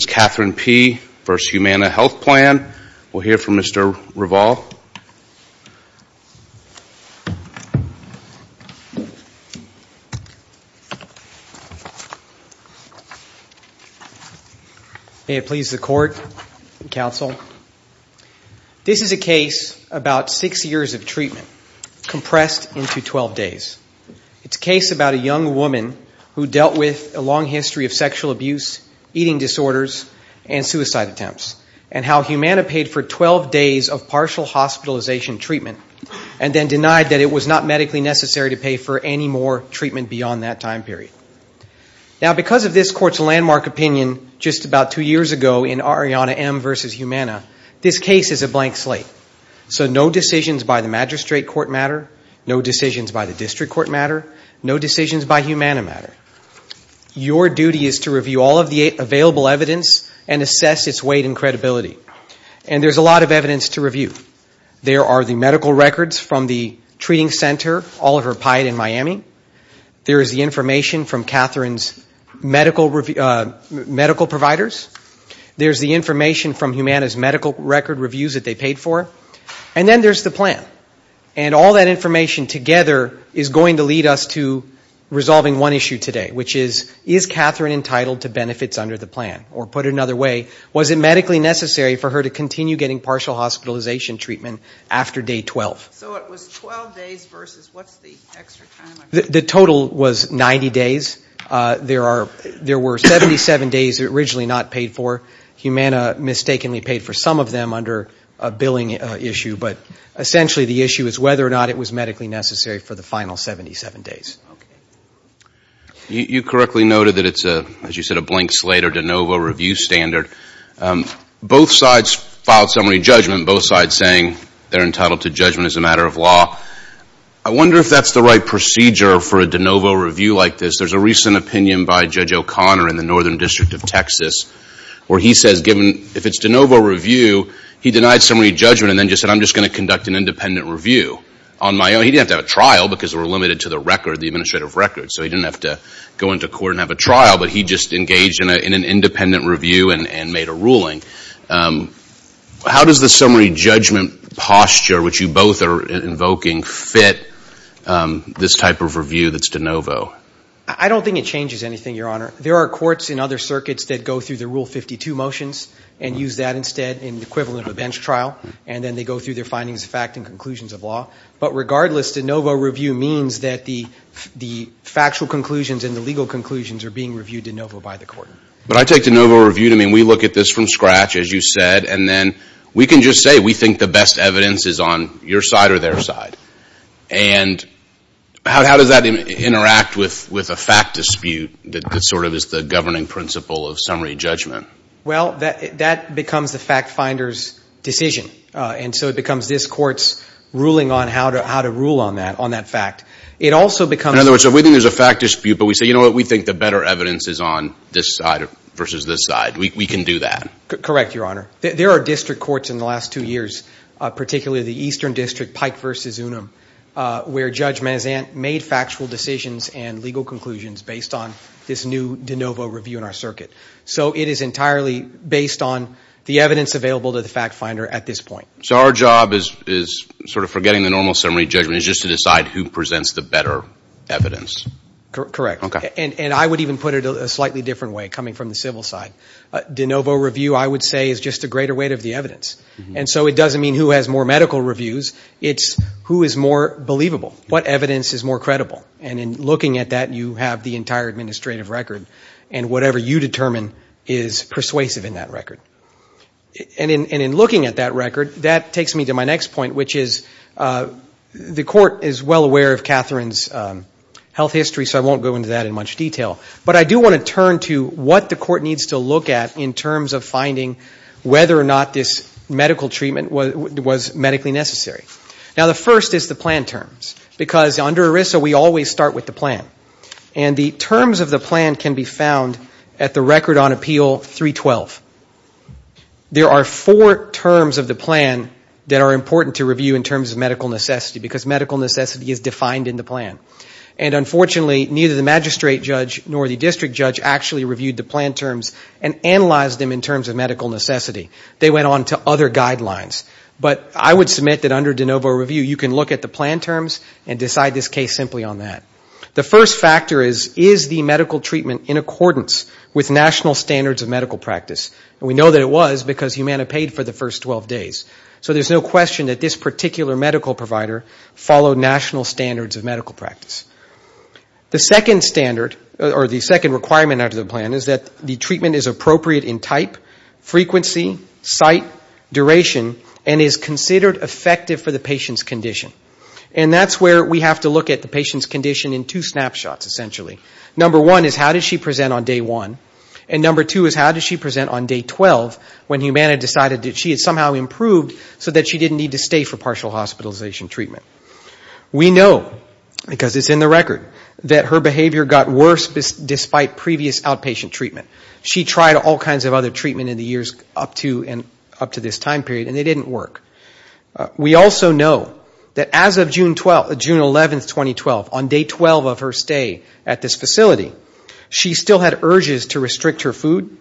We'll hear from Mr. Revol. May it please the Court and Counsel. This is a case about six years of treatment, compressed into 12 days. It's a case about a young woman who dealt with a long history of sexual abuse, eating disorders, and suicide attempts, and how Humana paid for 12 days of partial hospitalization treatment and then denied that it was not medically necessary to pay for any more treatment beyond that time period. Now, because of this Court's landmark opinion just about two years ago in Ariana M. v. Humana, this case is a blank slate. So no decisions by the magistrate court matter, no decisions by the district court matter, no decisions by Humana matter. Your duty is to review all of the available evidence and assess its weight and credibility. And there's a lot of evidence to review. There are the medical records from the treating center, Oliver Pied in Miami. There is the information from Catherine's medical providers. There's the information from Humana's medical record reviews that they paid for. And then there's the plan. And all that information together is going to lead us to resolving one issue today, which is, is Catherine entitled to benefits under the plan? Or put another way, was it medically necessary for her to continue getting partial hospitalization treatment after day 12? So it was 12 days versus what's the extra time? The total was 90 days. There were 77 days originally not paid for. Humana mistakenly paid for some of them under a billing issue. But essentially the issue is whether or not it was medically necessary for the final 77 days. You correctly noted that it's, as you said, a blank slate or de novo review standard. Both sides filed summary judgment. Both sides saying they're entitled to judgment as a matter of law. I wonder if that's the right procedure for a de novo review like this. There's a recent opinion by Judge O'Connor in the Northern District of Texas where he says given, if it's de novo review, he denied summary judgment and then just said, I'm just going to conduct an independent review on my own. He didn't have to have a trial because we're limited to the record, the administrative record. So he didn't have to go into court and have a trial, but he just engaged in an independent review and made a ruling. How does the summary judgment posture, which you both are invoking, fit this type of review that's de novo? I don't think it changes anything, Your Honor. There are courts in other circuits that go through the Rule 52 motions and use that instead in the equivalent of a bench trial, and then they go through their findings of fact and conclusions of law. But regardless, de novo review means that the factual conclusions and the legal conclusions are being reviewed de novo by the court. But I take de novo review to mean we look at this from scratch, as you said, and then we can just say we think the best evidence is on your side or their side. And how does that interact with a fact dispute that sort of is the governing principle of summary judgment? Well, that becomes the fact finder's decision. And so it becomes this court's ruling on how to rule on that fact. In other words, if we think there's a fact dispute, but we say, you know what, we think the better evidence is on this side versus this side, we can do that. Correct, Your Honor. There are district courts in the last two years, particularly the Eastern District, Pike v. Unum, where Judge Mazant made factual decisions and legal conclusions based on this new de novo review in our circuit. So it is entirely based on the evidence available to the fact finder at this point. So our job is sort of forgetting the normal summary judgment. It's just to decide who presents the better evidence. Correct. And I would even put it a slightly different way, coming from the civil side. De novo review, I would say, is just a greater weight of the evidence. And so it doesn't mean who has more medical reviews. It's who is more believable, what evidence is more credible. And in looking at that, you have the entire administrative record. And whatever you determine is persuasive in that record. And in looking at that record, that takes me to my next point, which is the court is well aware of Catherine's health history, so I won't go into that in much detail. But I do want to turn to what the court needs to look at in terms of finding whether or not this medical treatment was medically necessary. Now, the first is the plan terms, because under ERISA, we always start with the plan. And the terms of the plan can be found at the record on appeal 312. There are four terms of the plan that are important to review in terms of medical necessity, because medical necessity is defined in the plan. And unfortunately, neither the magistrate judge nor the district judge actually reviewed the plan terms and analyzed them in terms of medical necessity. They went on to other guidelines. But I would submit that under de novo review, you can look at the plan terms and decide this case simply on that. The first factor is, is the medical treatment in accordance with national standards of medical practice? And we know that it was, because Humana paid for the first 12 days. So there's no question that this particular medical provider followed national standards of medical practice. The second standard, or the second requirement under the plan is that the treatment is appropriate in type, frequency, site, duration, and is considered effective for the patient's condition. And that's where we have to look at the patient's condition in two snapshots, essentially. Number one is, how did she present on day one? And number two is, how did she present on day 12, when Humana decided that she had somehow improved so that she didn't need to stay for partial hospitalization treatment? We know, because it's in the record, that her behavior got worse despite previous outpatient treatment. She tried all kinds of other treatment in the years up to this time period, and it didn't work. We also know that as of June 12, June 11, 2012, on day 12 of her stay at this facility, she still had urges to restrict her food.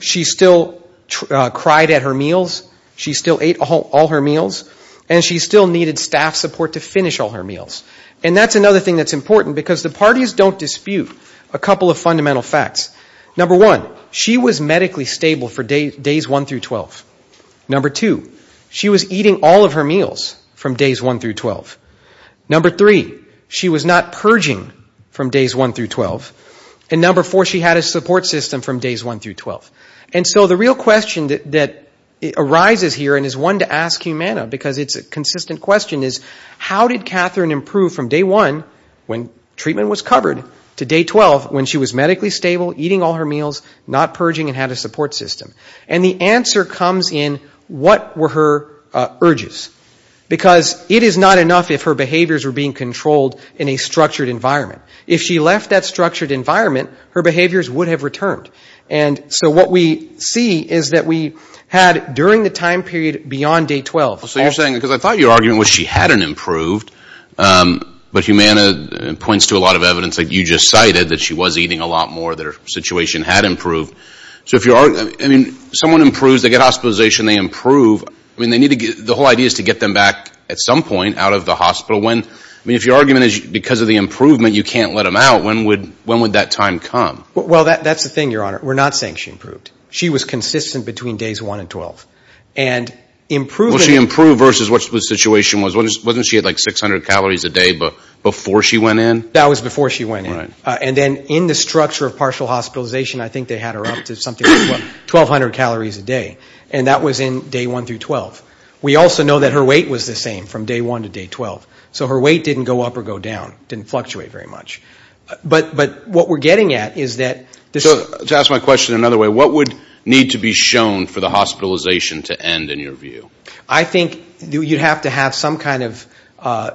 She still cried at her meals. She still ate all her meals. And she still needed staff support to finish all her meals. And that's another thing that's important, because the parties don't dispute a couple of fundamental facts. Number one, she was medically stable for days one through 12. Number two, she was eating all of her meals from days one through 12. Number three, she was not purging from days one through 12. And number four, she had a support system from days one through 12. And so the real question that arises here, and is one to ask Humana, because it's a consistent question, is, how did Catherine improve from day one, when treatment was covered, to day 12, when she was medically stable, eating all her meals, not purging, and had a support system? And the answer comes in, what were her urges? Because it is not enough if her behaviors were being controlled in a structured environment. If she left that structured environment, her behaviors would have returned. And so what we see is that we had, during the time period beyond day 12. So you're saying, because I thought your argument was she hadn't improved. But Humana points to a lot of evidence that you just cited, that she was eating a lot more, that her situation had improved. So if you're arguing, I mean, someone improves, they get hospitalization, they improve. I mean, the whole idea is to get them back at some point out of the hospital. I mean, if your argument is because of the improvement, you can't let them out, when would that time come? Well, that's the thing, Your Honor, we're not saying she improved. She was consistent between days one and 12. And improving. Well, she improved versus what the situation was. Wasn't she at like 600 calories a day before she went in? That was before she went in. And then in the structure of partial hospitalization, I think they had her up to something like 1,200 calories a day. And that was in day one through 12. We also know that her weight was the same from day one to day 12. So her weight didn't go up or go down. It didn't fluctuate very much. But what we're getting at is that this was... So to ask my question another way, what would need to be shown for the hospitalization to end in your view? I think you'd have to have some kind of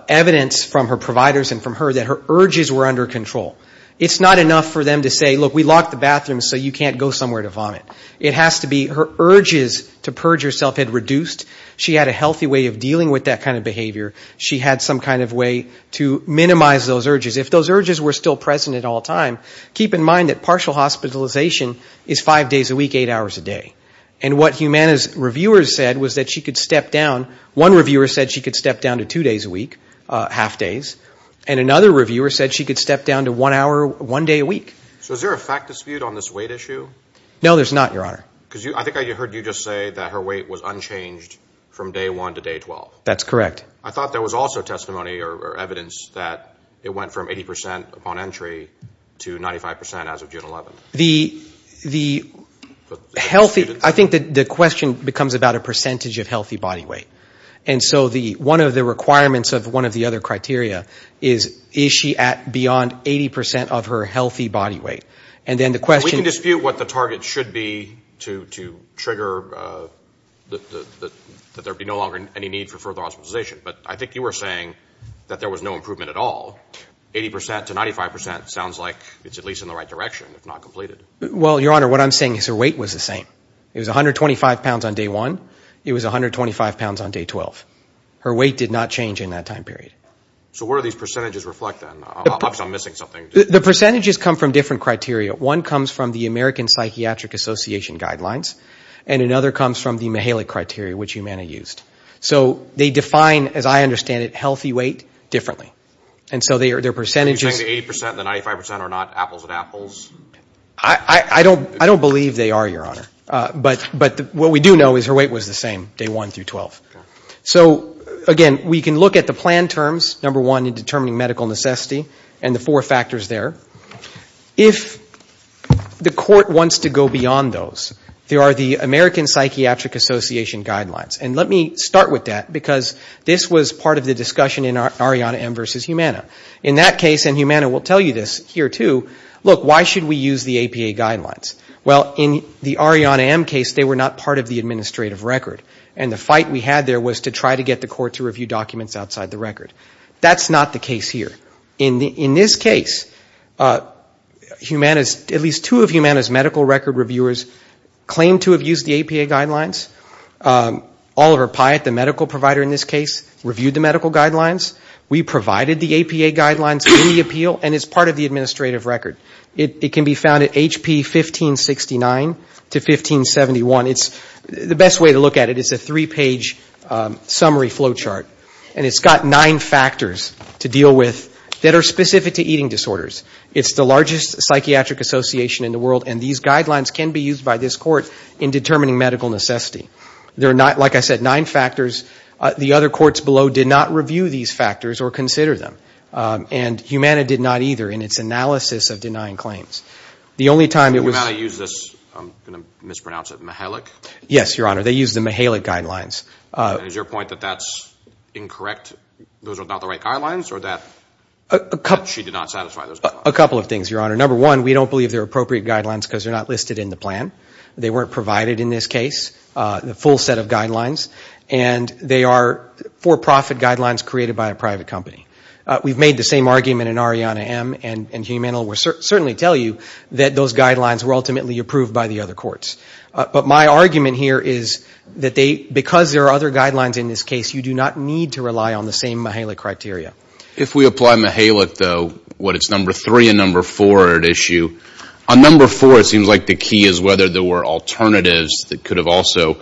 evidence from her providers and from her that her urges were under control. It's not enough for them to say, look, we locked the bathroom so you can't go somewhere to vomit. It has to be her urges to purge herself had reduced. She had a healthy way of dealing with that kind of behavior. She had some kind of way to minimize those urges. If those urges were still present at all time, keep in mind that partial hospitalization is five days a week, eight hours a day. And what Humana's reviewers said was that she could step down. One reviewer said she could step down to two days a week, half days. And another reviewer said she could step down to one hour, one day a week. So is there a fact dispute on this weight issue? No, there's not, Your Honor. Because I think I heard you just say that her weight was unchanged from day one to day 12. That's correct. I thought there was also testimony or evidence that it went from 80 percent upon entry to 95 percent as of June 11th. I think the question becomes about a percentage of healthy body weight. And so one of the requirements of one of the other criteria is, is she at beyond 80 percent of her healthy body weight? We can dispute what the target should be to trigger that there be no longer any need for further weight. But I think you were saying that there was no improvement at all. 80 percent to 95 percent sounds like it's at least in the right direction, if not completed. Well, Your Honor, what I'm saying is her weight was the same. It was 125 pounds on day one. It was 125 pounds on day 12. Her weight did not change in that time period. So where do these percentages reflect, then? The percentages come from different criteria. One comes from the American Psychiatric Association guidelines, and another comes from the Mahalik criteria, which you may have used. So they define, as I understand it, healthy weight differently. And so their percentages... I don't believe they are, Your Honor. But what we do know is her weight was the same day one through 12. So again, we can look at the plan terms, number one, in determining medical necessity, and the four factors there. If the court wants to go beyond those, there are the American Psychiatric Association guidelines. And let me start with that, because this was part of the discussion in Ariana M. versus Humana. In that case, and Humana will tell you this here, too, look, why should we use the APA guidelines? Well, in the Ariana M. case, they were not part of the administrative record. And the fight we had there was to try to get the court to review documents outside the record. That's not the case here. In this case, at least two of Humana's medical record reviewers claimed to have used the APA guidelines. Oliver Pyatt, the medical provider in this case, reviewed the medical guidelines. We provided the APA guidelines in the appeal, and it's part of the administrative record. It can be found at HP 1569 to 1571. It's the best way to look at it. It's a three-page summary flow chart. And it's got nine factors to deal with that are specific to eating disorders. It's the largest psychiatric association in the world, and these guidelines can be used by this court in determining medical necessity. They're not, like I said, nine factors. The other courts below did not review these factors or consider them. And Humana did not either in its analysis of denying claims. The only time it was... Yes, Your Honor, they used the Mihalik guidelines. Is your point that that's incorrect, those are not the right guidelines, or that she did not satisfy those guidelines? A couple of things, Your Honor. Number one, we don't believe they're appropriate guidelines because they're not listed in the plan. They weren't provided in this case, the full set of guidelines. And they are for-profit guidelines created by a private company. We've made the same argument in Arianna M. and Humana will certainly tell you that those guidelines were ultimately approved by the other courts. But my argument here is that because there are other guidelines in this case, you do not need to rely on the same Mihalik criteria. If we apply Mihalik, though, what it's number three and number four at issue, on number four it seems like the key is whether there were alternatives that could have also, you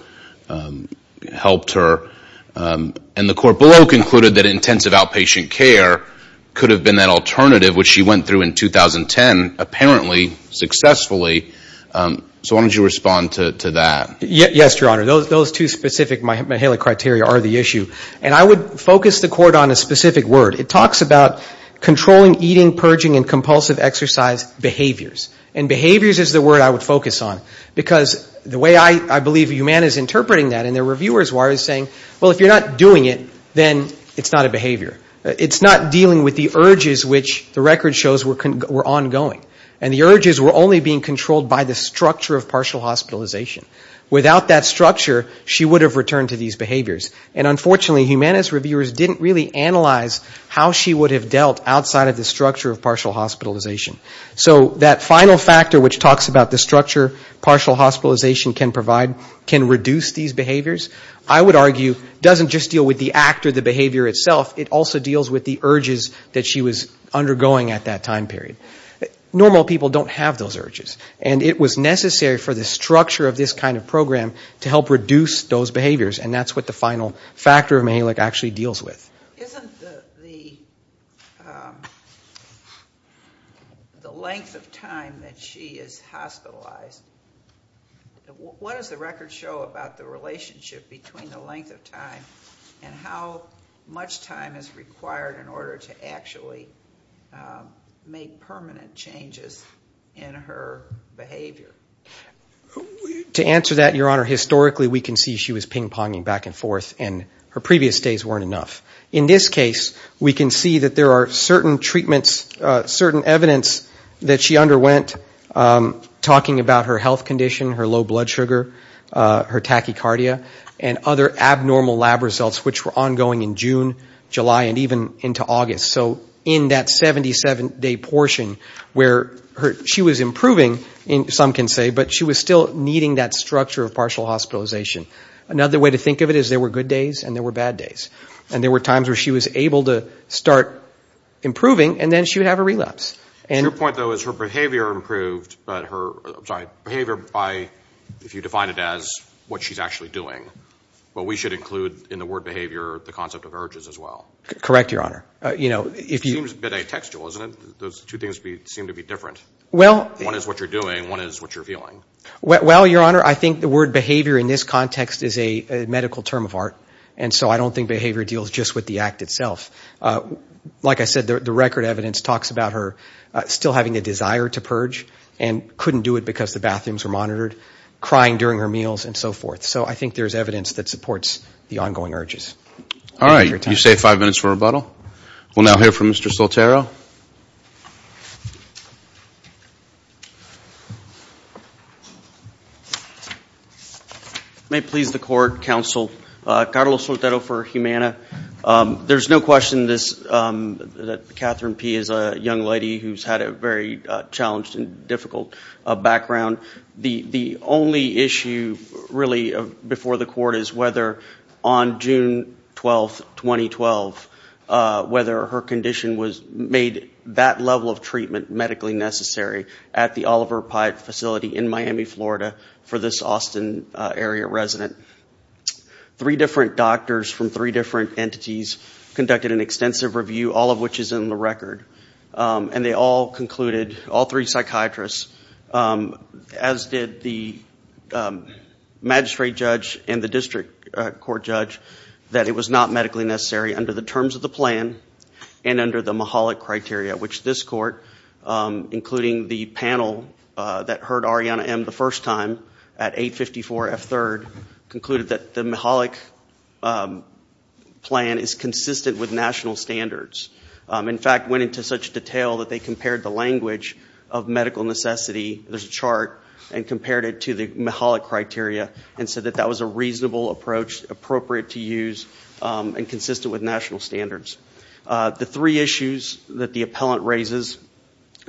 know, helped her, and the court below concluded that intensive outpatient care could have been that alternative, which she went through in 2010 apparently successfully. So why don't you respond to that? Yes, Your Honor, those two specific Mihalik criteria are the issue. And I would focus the court on a specific word. It talks about controlling eating, purging, and compulsive exercise behaviors. And behaviors is the word I would focus on. Because the way I believe Humana is interpreting that and the reviewers are saying, well, if you're not doing it, then it's not a behavior. It's not dealing with the urges which the record shows were ongoing. And the urges were only being controlled by the structure of partial hospitalization. Without that structure, she would have returned to these behaviors. And unfortunately, Humana's reviewers didn't really analyze how she would have dealt outside of the structure of partial hospitalization. So that final factor which talks about the structure partial hospitalization can provide can reduce these behaviors. I would argue doesn't just deal with the act or the behavior itself, it also deals with the urges that she was undergoing at that time period. Normal people don't have those urges. And it was necessary for the structure of this kind of program to help reduce those behaviors. And that's what the final factor of Mihalik actually deals with. Isn't the length of time that she is hospitalized, what does the record show about the relationship between the length of time and how much time is required in order to actually make purchases? What are the permanent changes in her behavior? To answer that, Your Honor, historically we can see she was ping-ponging back and forth, and her previous days weren't enough. In this case, we can see that there are certain treatments, certain evidence that she underwent, talking about her health condition, her low blood sugar, her tachycardia, and other abnormal lab results which were ongoing in June, July, and even into August. So in that 77-day portion where she was improving, some can say, but she was still needing that structure of partial hospitalization. Another way to think of it is there were good days and there were bad days. And there were times where she was able to start improving, and then she would have a relapse. Your point, though, is her behavior improved, but her, I'm sorry, behavior by, if you define it as what she's actually doing. But we should include in the word behavior the concept of urges as well. Correct, Your Honor. It seems a bit atextual, doesn't it? Those two things seem to be different. One is what you're doing, one is what you're feeling. Well, Your Honor, I think the word behavior in this context is a medical term of art, and so I don't think behavior deals just with the act itself. Like I said, the record evidence talks about her still having a desire to purge and couldn't do it because the bathrooms were monitored, crying during her meals, and so forth. So I think there's evidence that supports the ongoing urges. All right, you say five minutes for rebuttal. We'll now hear from Mr. Soltero. May it please the Court, Counsel, Carlos Soltero for Humana. There's no question that Catherine P. is a young lady who's had a very challenged and difficult background. The only issue really before the Court is whether on June 12, 2012, whether her condition was made that level of treatment medically necessary at the Oliver Pyatt facility in Miami, Florida for this Austin area resident. Three different doctors from three different entities conducted an extensive review, all of which is in the record. And they all concluded, all three psychiatrists, as did the magistrate judge and the district court judge, that it was not medically necessary under the terms of the plan and under the MAHOLIC criteria, which this Court, including the panel that heard Arianna M. the first time at 854 F. 3rd, concluded that the MAHOLIC plan is consistent with national standards. In fact, went into such detail that they compared the language of medical necessity, there's a chart, and compared it to the MAHOLIC criteria and said that that was a reasonable approach, appropriate to use, and consistent with national standards. The three issues that the appellant raises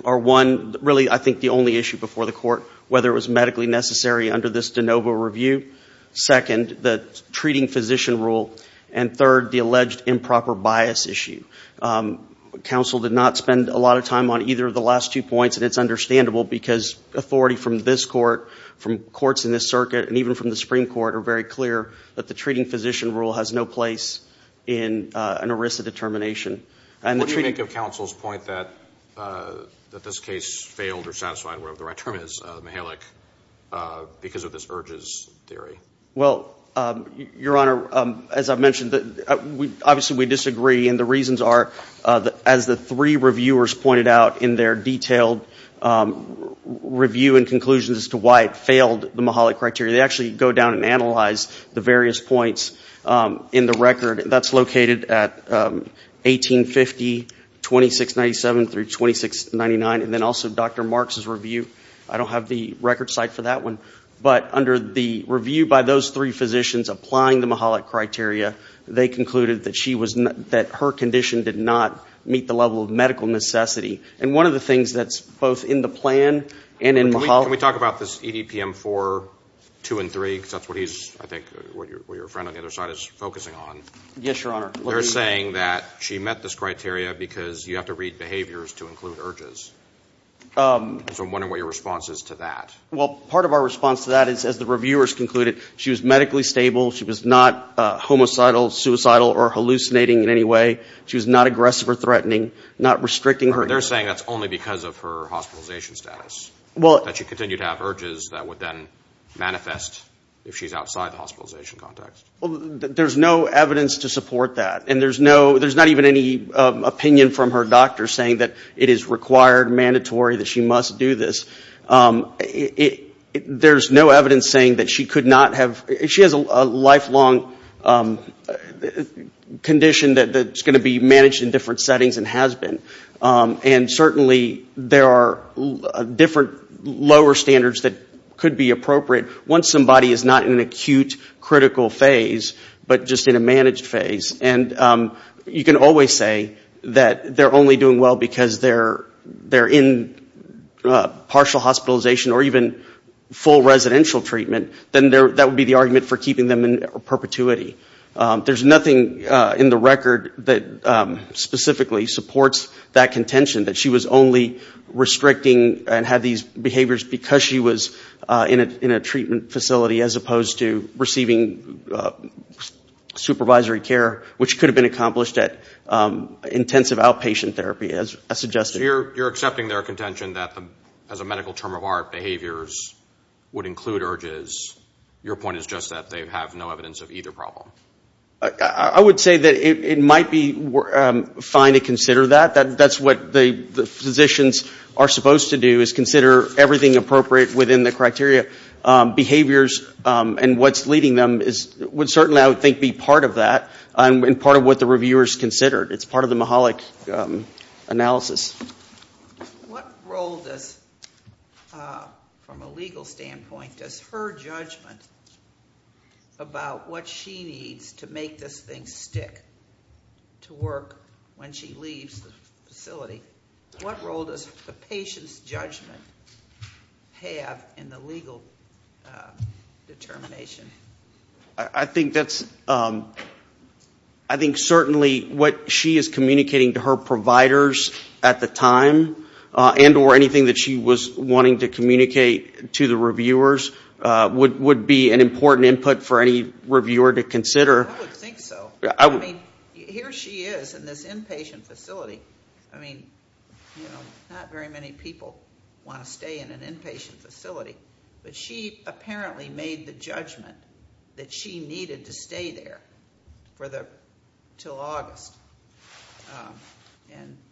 are, one, really I think the only issue before the Court, whether it was medically necessary under this de novo review, second, the treating physician rule, and third, the alleged improper bias issue. Counsel did not spend a lot of time on either of the last two points, and it's understandable, because authority from this Court, from courts in this circuit, and even from the Supreme Court are very clear that the treating physician rule has no place in an ERISA determination. What do you make of counsel's point that this case failed or satisfied, whatever the right term is, the MAHOLIC, because of this urges theory? Well, Your Honor, as I mentioned, obviously we disagree, and the reasons are, as the three reviewers pointed out in their detailed review and conclusions as to why it failed the MAHOLIC criteria, they actually go down and analyze the various points in the record. That's located at 1850, 2697 through 2699, and then also Dr. Marks' review. I don't have the record site for that one, but under the review by those three physicians applying the MAHOLIC criteria, they concluded that her condition did not meet the level of medical necessity. And one of the things that's both in the plan and in MAHOLIC... Can we talk about this EDPM 4, 2, and 3, because that's what he's, I think, what your friend on the other side is focusing on? Yes, Your Honor. They're saying that she met this criteria because you have to read behaviors to include urges. So I'm wondering what your response is to that. Well, part of our response to that is, as the reviewers concluded, she was medically stable. She was not homicidal, suicidal, or hallucinating in any way. She was not aggressive or threatening, not restricting her... There's no evidence to support that. And there's not even any opinion from her doctor saying that it is required, mandatory, that she must do this. There's no evidence saying that she could not have... She has a lifelong condition that's going to be managed in different settings and has been. And certainly there are different lower standards that could be appropriate once somebody is not in an acute critical phase. But just in a managed phase. And you can always say that they're only doing well because they're in partial hospitalization or even full residential treatment. Then that would be the argument for keeping them in perpetuity. There's nothing in the record that specifically supports that contention. That she was only restricting and had these behaviors because she was in a treatment facility as opposed to receiving medical care. Supervisory care, which could have been accomplished at intensive outpatient therapy, as suggested. You're accepting their contention that as a medical term of art, behaviors would include urges. Your point is just that they have no evidence of either problem. I would say that it might be fine to consider that. That's what the physicians are supposed to do, is consider everything appropriate within the criteria. Behaviors and what's leading them would certainly, I would think, be part of that. And part of what the reviewers considered. It's part of the Mahalik analysis. What role does, from a legal standpoint, does her judgment about what she needs to make this thing stick to work when she leaves the facility? What role does the patient's judgment have in the legal determination? I think certainly what she is communicating to her providers at the time, and or anything that she was wanting to communicate to the reviewers, would be an important input for any reviewer to consider. I would think so. Here she is in this inpatient facility. Not very many people want to stay in an inpatient facility. But she apparently made the judgment that she needed to stay there until August.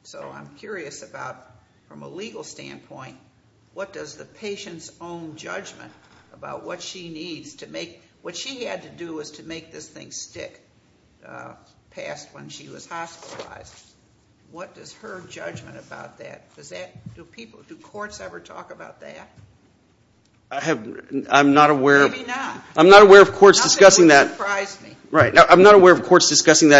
So I'm curious about, from a legal standpoint, what does the patient's own judgment about what she needs to make, what she had to do was to make this thing stick past when she was hospitalized. What does her judgment about that? Do courts ever talk about that? Maybe not. I'm not aware of courts discussing that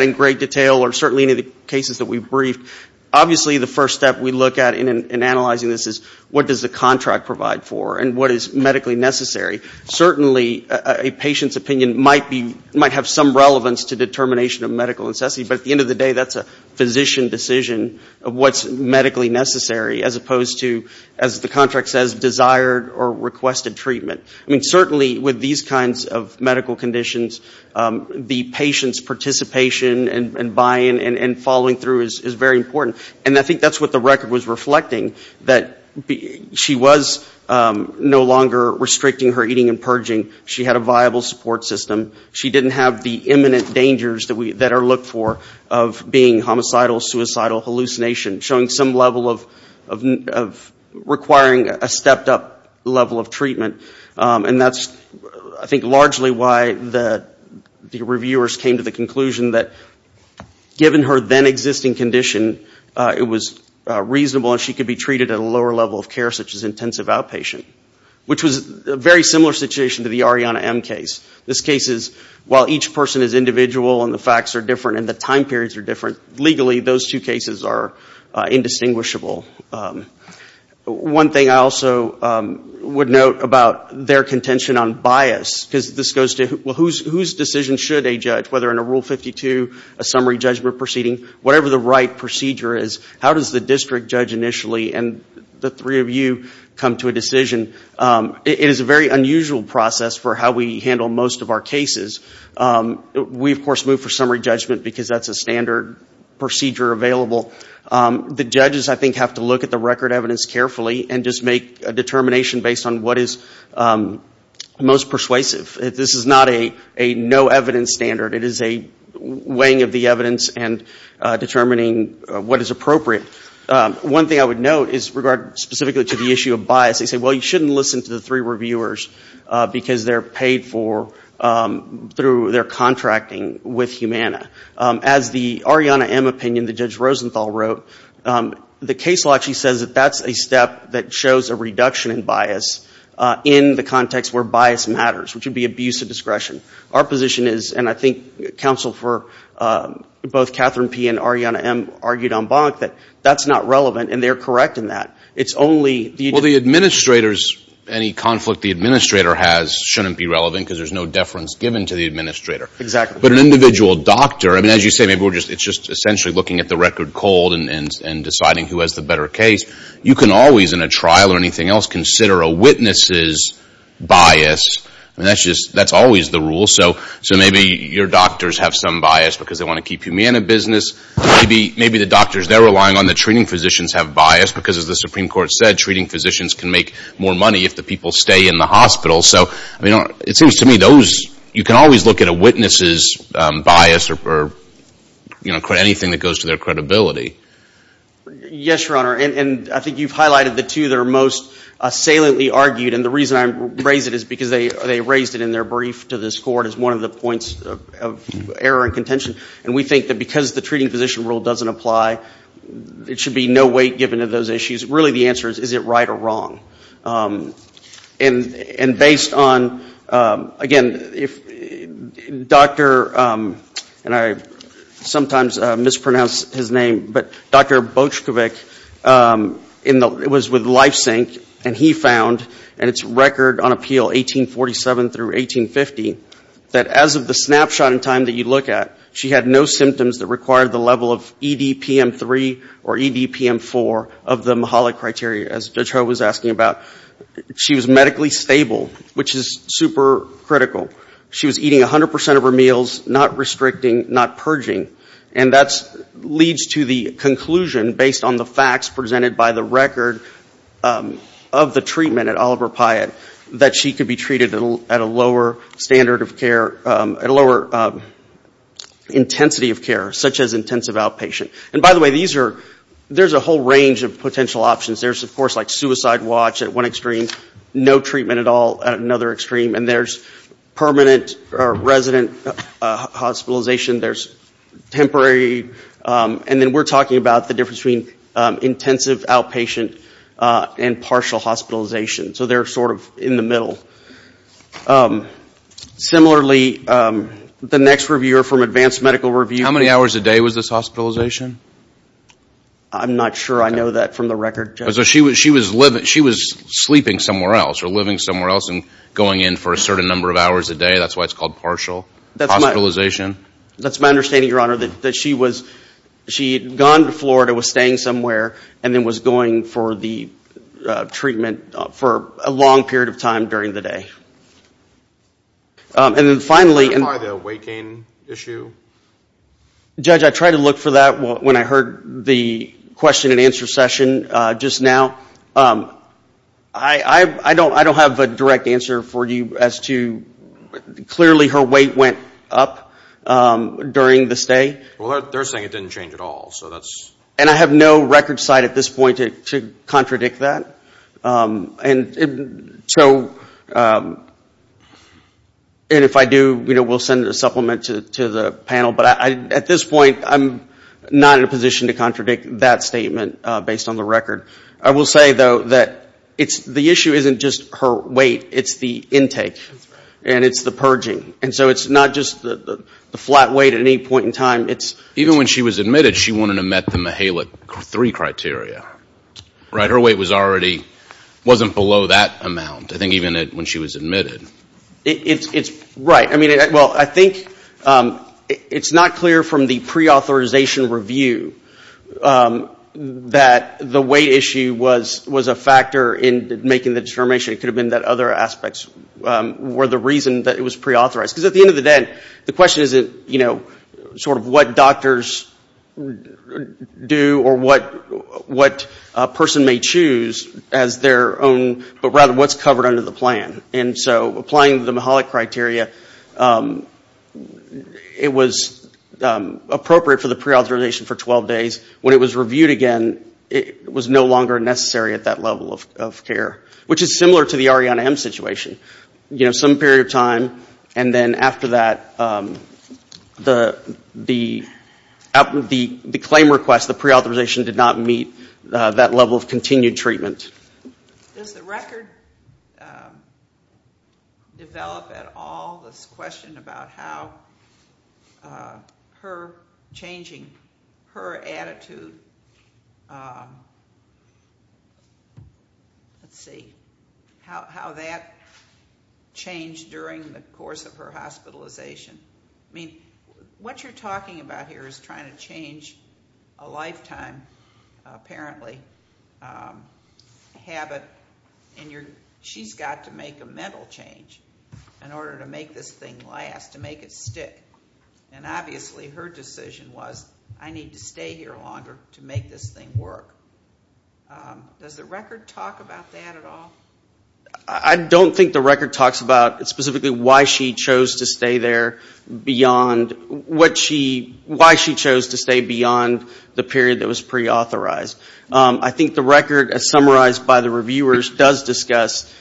in great detail or certainly any of the cases that we've briefed. Obviously the first step we look at in analyzing this is what does the contract provide for and what is medically necessary. Certainly a patient's opinion might have some relevance to determination of medical necessity. But at the end of the day, that's a physician decision of what's medically necessary, as opposed to, as the contract says, desired or requested treatment. Certainly with these kinds of medical conditions, the patient's participation and buy-in and following through is very important. And I think that's what the record was reflecting, that she was no longer restricting her eating and purging. She had a viable support system. She didn't have the imminent dangers that are looked for of being homicidal, suicidal, hallucination, showing some level of requiring a stepped-up level of treatment. And that's, I think, largely why the reviewers came to the conclusion that given her then-existing condition, it was reasonable and she could be treated at a lower level of care, such as intensive outpatient. Which was a very similar situation to the Ariana M case. This case is, while each person is individual and the facts are different and the time periods are different, legally those two cases are indistinguishable. One thing I also would note about their contention on bias, because this goes to, well, whose decision should a judge, whether in a Rule 52, a summary judgment proceeding, whatever the right procedure is, how does the district judge initially and the three of you come to a decision? It is a very unusual process for how we handle most of our cases. We, of course, move for summary judgment because that's a standard procedure available. The judges, I think, have to look at the record evidence carefully and just make a determination based on what is most persuasive. This is not a no-evidence standard. It is a weighing of the evidence and determining what is appropriate. One thing I would note is, regarding specifically to the issue of bias, they say, well, you shouldn't listen to the three reviewers because they're paid for through their contracting with Humana. As the Ariana M opinion, the Judge Rosenthal wrote, the case law actually says that that's a step that shows a reduction in bias in the context where bias matters, which would be abuse of discretion. Our position is, and I think counsel for both Catherine P. and Ariana M argued on Bonk, that bias matters. That's not relevant, and they're correct in that. Well, the administrators, any conflict the administrator has shouldn't be relevant because there's no deference given to the administrator. But an individual doctor, as you say, it's just essentially looking at the record cold and deciding who has the better case. You can always, in a trial or anything else, consider a witness's bias. That's always the rule. So maybe your doctors have some bias because they want to keep Humana business. Maybe the doctors they're relying on, the treating physicians, have bias because, as the Supreme Court said, treating physicians can make more money if the people stay in the hospital. It seems to me you can always look at a witness's bias or anything that goes to their credibility. Yes, Your Honor. And I think you've highlighted the two that are most assailantly argued. And the reason I raise it is because they raised it in their brief to this Court as one of the points of error and contention. And we think that because the treating physician rule doesn't apply, it should be no weight given to those issues. Really, the answer is, is it right or wrong? And based on, again, if Dr. and I sometimes mispronounce his name, but Dr. Bochkovich, it was with LifeSync, and he found in its record on appeal 1847 through 1850, that as of the snapshot in time that you look at, she had no symptoms that required the level of EDPM3 or EDPM4 of the Mahalik criteria, as Judge Ho was asking about. She was medically stable, which is super critical. She was eating 100 percent of her meals, not restricting, not purging. And that leads to the conclusion, based on the facts presented by the record of the treatment at Oliver Pyatt, that she could be treated at a lower standard of care, at a lower intensity of care, such as intensive outpatient. And by the way, there's a whole range of potential options. There's, of course, like suicide watch at one extreme, no treatment at all at another extreme. And there's permanent resident hospitalization. There's temporary. And then we're talking about the difference between intensive outpatient and partial hospitalization. So they're sort of in the middle. Similarly, the next reviewer from Advanced Medical Review... I'm sorry. That's my understanding, Your Honor, that she had gone to Florida, was staying somewhere, and then was going for the treatment for a long period of time during the day. And then finally... Judge, I tried to look for that when I heard the question and answer session just now. I don't have a direct answer for you as to... Clearly her weight went up during the stay. And I have no record site at this point to contradict that. And if I do, we'll send a supplement to the panel. But at this point, I'm not in a position to contradict that statement based on the record. I will say, though, that the issue isn't just her weight. It's the intake. And it's the purging. And so it's not just the flat weight at any point in time. It's... It's not clear from the pre-authorization review that the weight issue was a factor in making the determination. It could have been that other aspects were the reason that it was pre-authorized. Because at the end of the day, the question isn't sort of what doctors do or what person may choose as their own, but rather what's covered under the plan. And so applying the Mihalik criteria, it was appropriate for the pre-authorization for 12 days. When it was reviewed again, it was no longer necessary at that level of care. Which is similar to the Arianna M. situation. The claim request, the pre-authorization did not meet that level of continued treatment. Does the record develop at all this question about how her changing her attitude... Let's see. How that changed during the course of her hospitalization. I mean, what you're talking about here is trying to change a lifetime, apparently. And she's got to make a mental change in order to make this thing last, to make it stick. And obviously her decision was, I need to stay here longer to make this thing work. Does the record talk about that at all? I don't think the record talks about specifically why she chose to stay there beyond... Why she chose to stay beyond the period that was pre-authorized. I think the record, as summarized by the reviewers, does discuss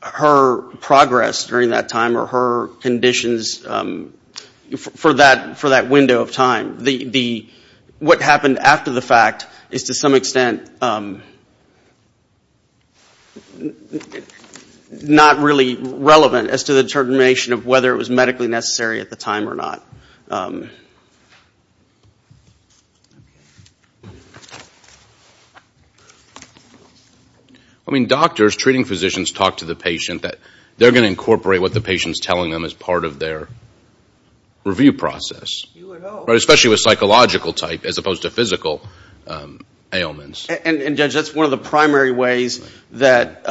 her progress during that time. Or her conditions for that window of time. What happened after the fact is to some extent... Not really relevant as to the determination of whether it was medically necessary at the time or not. I mean, doctors, treating physicians, talk to the patient that they're going to incorporate what the patient's telling them as part of their review process. Especially with psychological type, as opposed to physical ailments. And, Judge, that's one of the primary ways that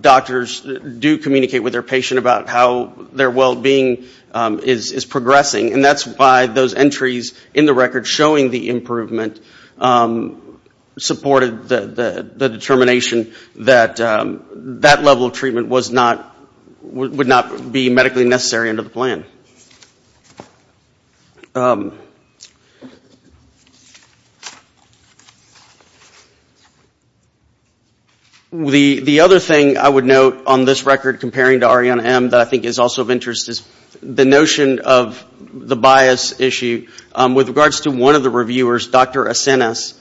doctors do communicate with their patient about how their well-being is progressing. And that's why those entries in the record showing the improvement... Supported the determination that that level of treatment was not... Would not be medically necessary under the plan. The other thing I would note on this record comparing to Ariana M that I think is also of interest is the notion of the bias issue. With regards to one of the reviewers, Dr. Acenas,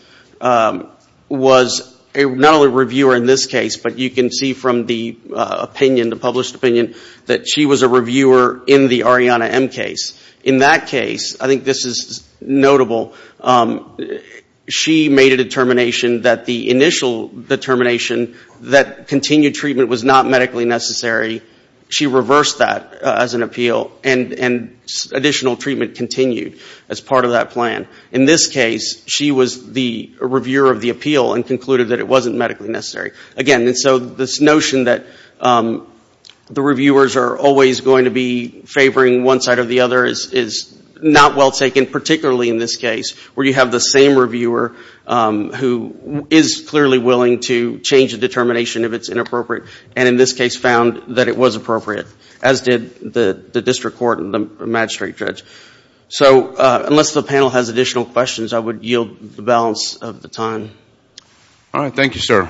was not only a reviewer in this case, but you can see from the opinion, the published opinion, that she was a reviewer in the Ariana M case. In that case, I think this is notable, she made a determination that the initial determination that continued treatment was not medically necessary. She reversed that as an appeal and additional treatment continued as part of that plan. In this case, she was the reviewer of the appeal and concluded that it wasn't medically necessary. Again, so this notion that the reviewers are always going to be favoring one side or the other is not well taken, particularly in this case, where you have the same reviewer who is clearly willing to change the determination if it's inappropriate. And in this case, found that it was appropriate, as did the district court and the magistrate judge. So unless the panel has additional questions, I would yield the balance of the time. All right, thank you, sir.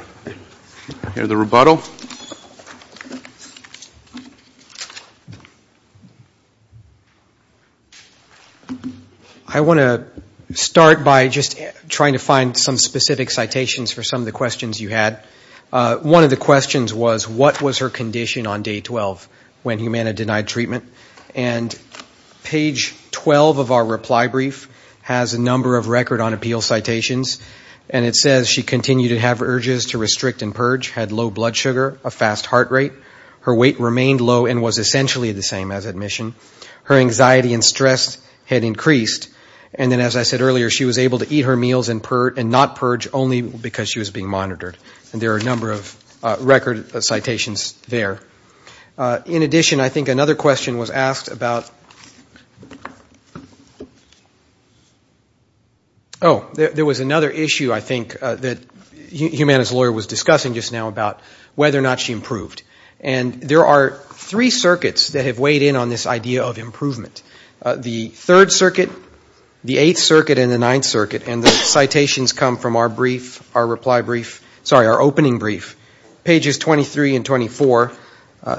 I want to start by just trying to find some specific citations for some of the questions you had. One of the questions was, what was her condition on day 12 when Humana denied treatment? And page 12 of our reply brief has a number of record on appeal citations. And it says she continued to have urges to restrict and purge, had low blood sugar, a fast heart rate. Her weight remained low and was essentially the same as admission. Her anxiety and stress had increased. And then, as I said earlier, she was able to eat her meals and not purge only because she was being monitored. And there are a number of record citations there. In addition, I think another question was asked about oh, there was another issue, I think, that Humana's lawyer was discussing just now about whether or not she improved. And there are three circuits that have weighed in on this idea of improvement. The Third Circuit, the Eighth Circuit, and the Ninth Circuit. And the citations come from our brief, our reply brief, sorry, our opening brief, pages 23 and 24.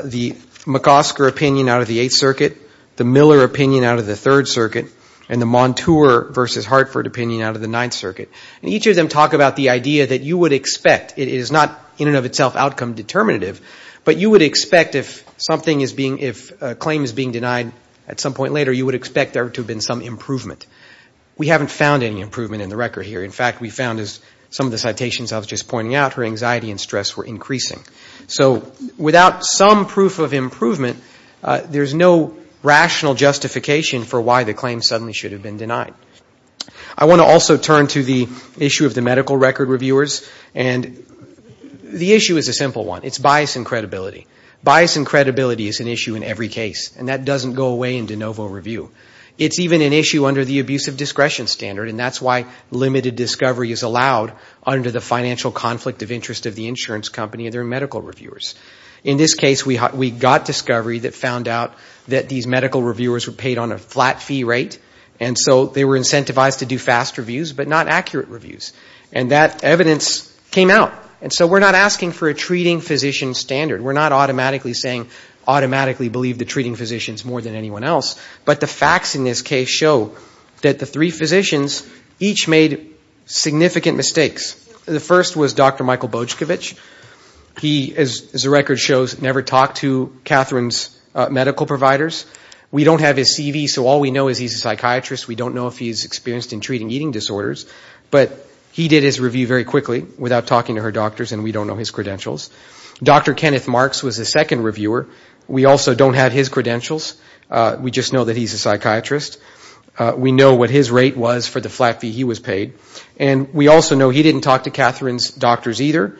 The McOsker opinion out of the Eighth Circuit, the Miller opinion out of the Third Circuit, and the Montour versus Hartford opinion out of the Ninth Circuit. And each of them talk about the idea that you would expect, it is not in and of itself outcome determinative, but you would expect if something is being, if a claim is being denied at some point later, you would expect there to have been some improvement. We haven't found any improvement in the record here. In fact, we found, as some of the citations I was just pointing out, her anxiety and stress were increasing. So without some proof of improvement, there is no rational justification for why the claim suddenly should have been denied. I want to also turn to the issue of the medical record reviewers. And the issue is a simple one. It's bias and credibility. Bias and credibility is an issue in every case, and that doesn't go away in de novo review. It's even an issue under the abusive discretion standard, and that's why limited discovery is allowed under the financial conflict of interest of the insurance company and their medical reviewers. In this case, we got discovery that found out that these medical reviewers were paid on a flat fee rate, and so they were incentivized to do fast reviews, but not accurate reviews. And that evidence came out. And so we're not asking for a treating physician standard. We're not automatically saying, automatically believe the treating physicians more than anyone else. But the facts in this case show that the three physicians each made significant mistakes. The first was Dr. Michael Bojkovic. He, as the record shows, never talked to Catherine's medical providers. We don't have his CV, so all we know is he's a psychiatrist. We don't know if he's experienced in treating eating disorders. But he did his review very quickly without talking to her doctors, and we don't know his credentials. Dr. Kenneth Marks was the second reviewer. We also don't have his credentials. We just know that he's a psychiatrist. We know what his rate was for the flat fee he was paid. And we also know he didn't talk to Catherine's doctors either.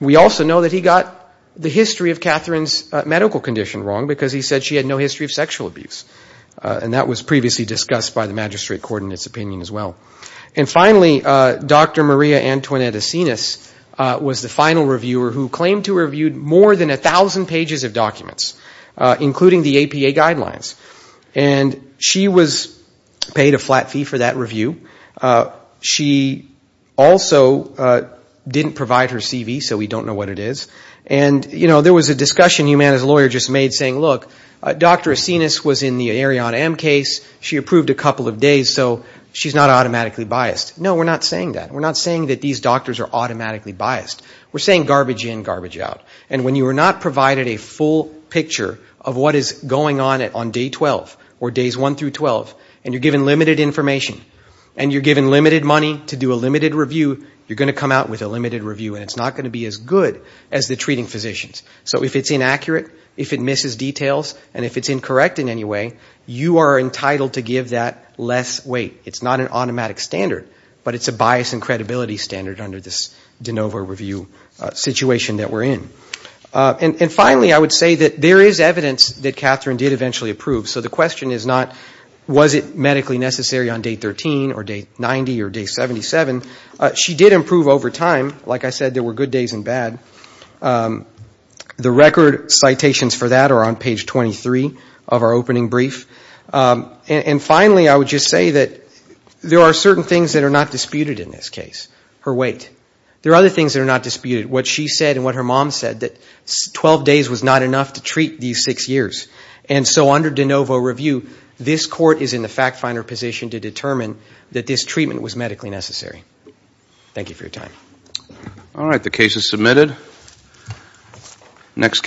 We also know that he got the history of Catherine's medical condition wrong, because he said she had no history of sexual abuse. And that was previously discussed by the magistrate court in its opinion as well. And finally, Dr. Maria Antoinette Asinas was the final reviewer, who claimed to have reviewed more than 1,000 pages of documents, including the APA guidelines. And she was paid a flat fee for that review. She also didn't provide her CV, so we don't know what it is. And, you know, there was a discussion Humana's lawyer just made saying, look, Dr. Asinas was in the Arion M case. She approved a couple of days, so she's not automatically biased. No, we're not saying that. We're not saying that these doctors are automatically biased. We're saying garbage in, garbage out. And when you are not provided a full picture of what is going on on day 12, or days 1 through 12, and you're given limited information, and you're given limited money to do a limited review, you're going to come out with a limited review, and it's not going to be as good as the treating physicians. So if it's inaccurate, if it misses details, and if it's incorrect in any way, you are entitled to give that less weight. It's not an automatic standard, but it's a bias and credibility standard under this de novo review situation that we're in. And finally, I would say that there is evidence that Catherine did eventually approve. So the question is not, was it medically necessary on day 13, or day 90, or day 77. She did improve over time. Like I said, there were good days and bad. The record citations for that are on page 23 of our opening brief. And finally, I would just say that there are certain things that are not disputed in this case. Her weight. There are other things that are not disputed. And what she said, and what her mom said, that 12 days was not enough to treat these six years. And so under de novo review, this court is in the fact finder position to determine that this treatment was medically necessary. Thank you for your time.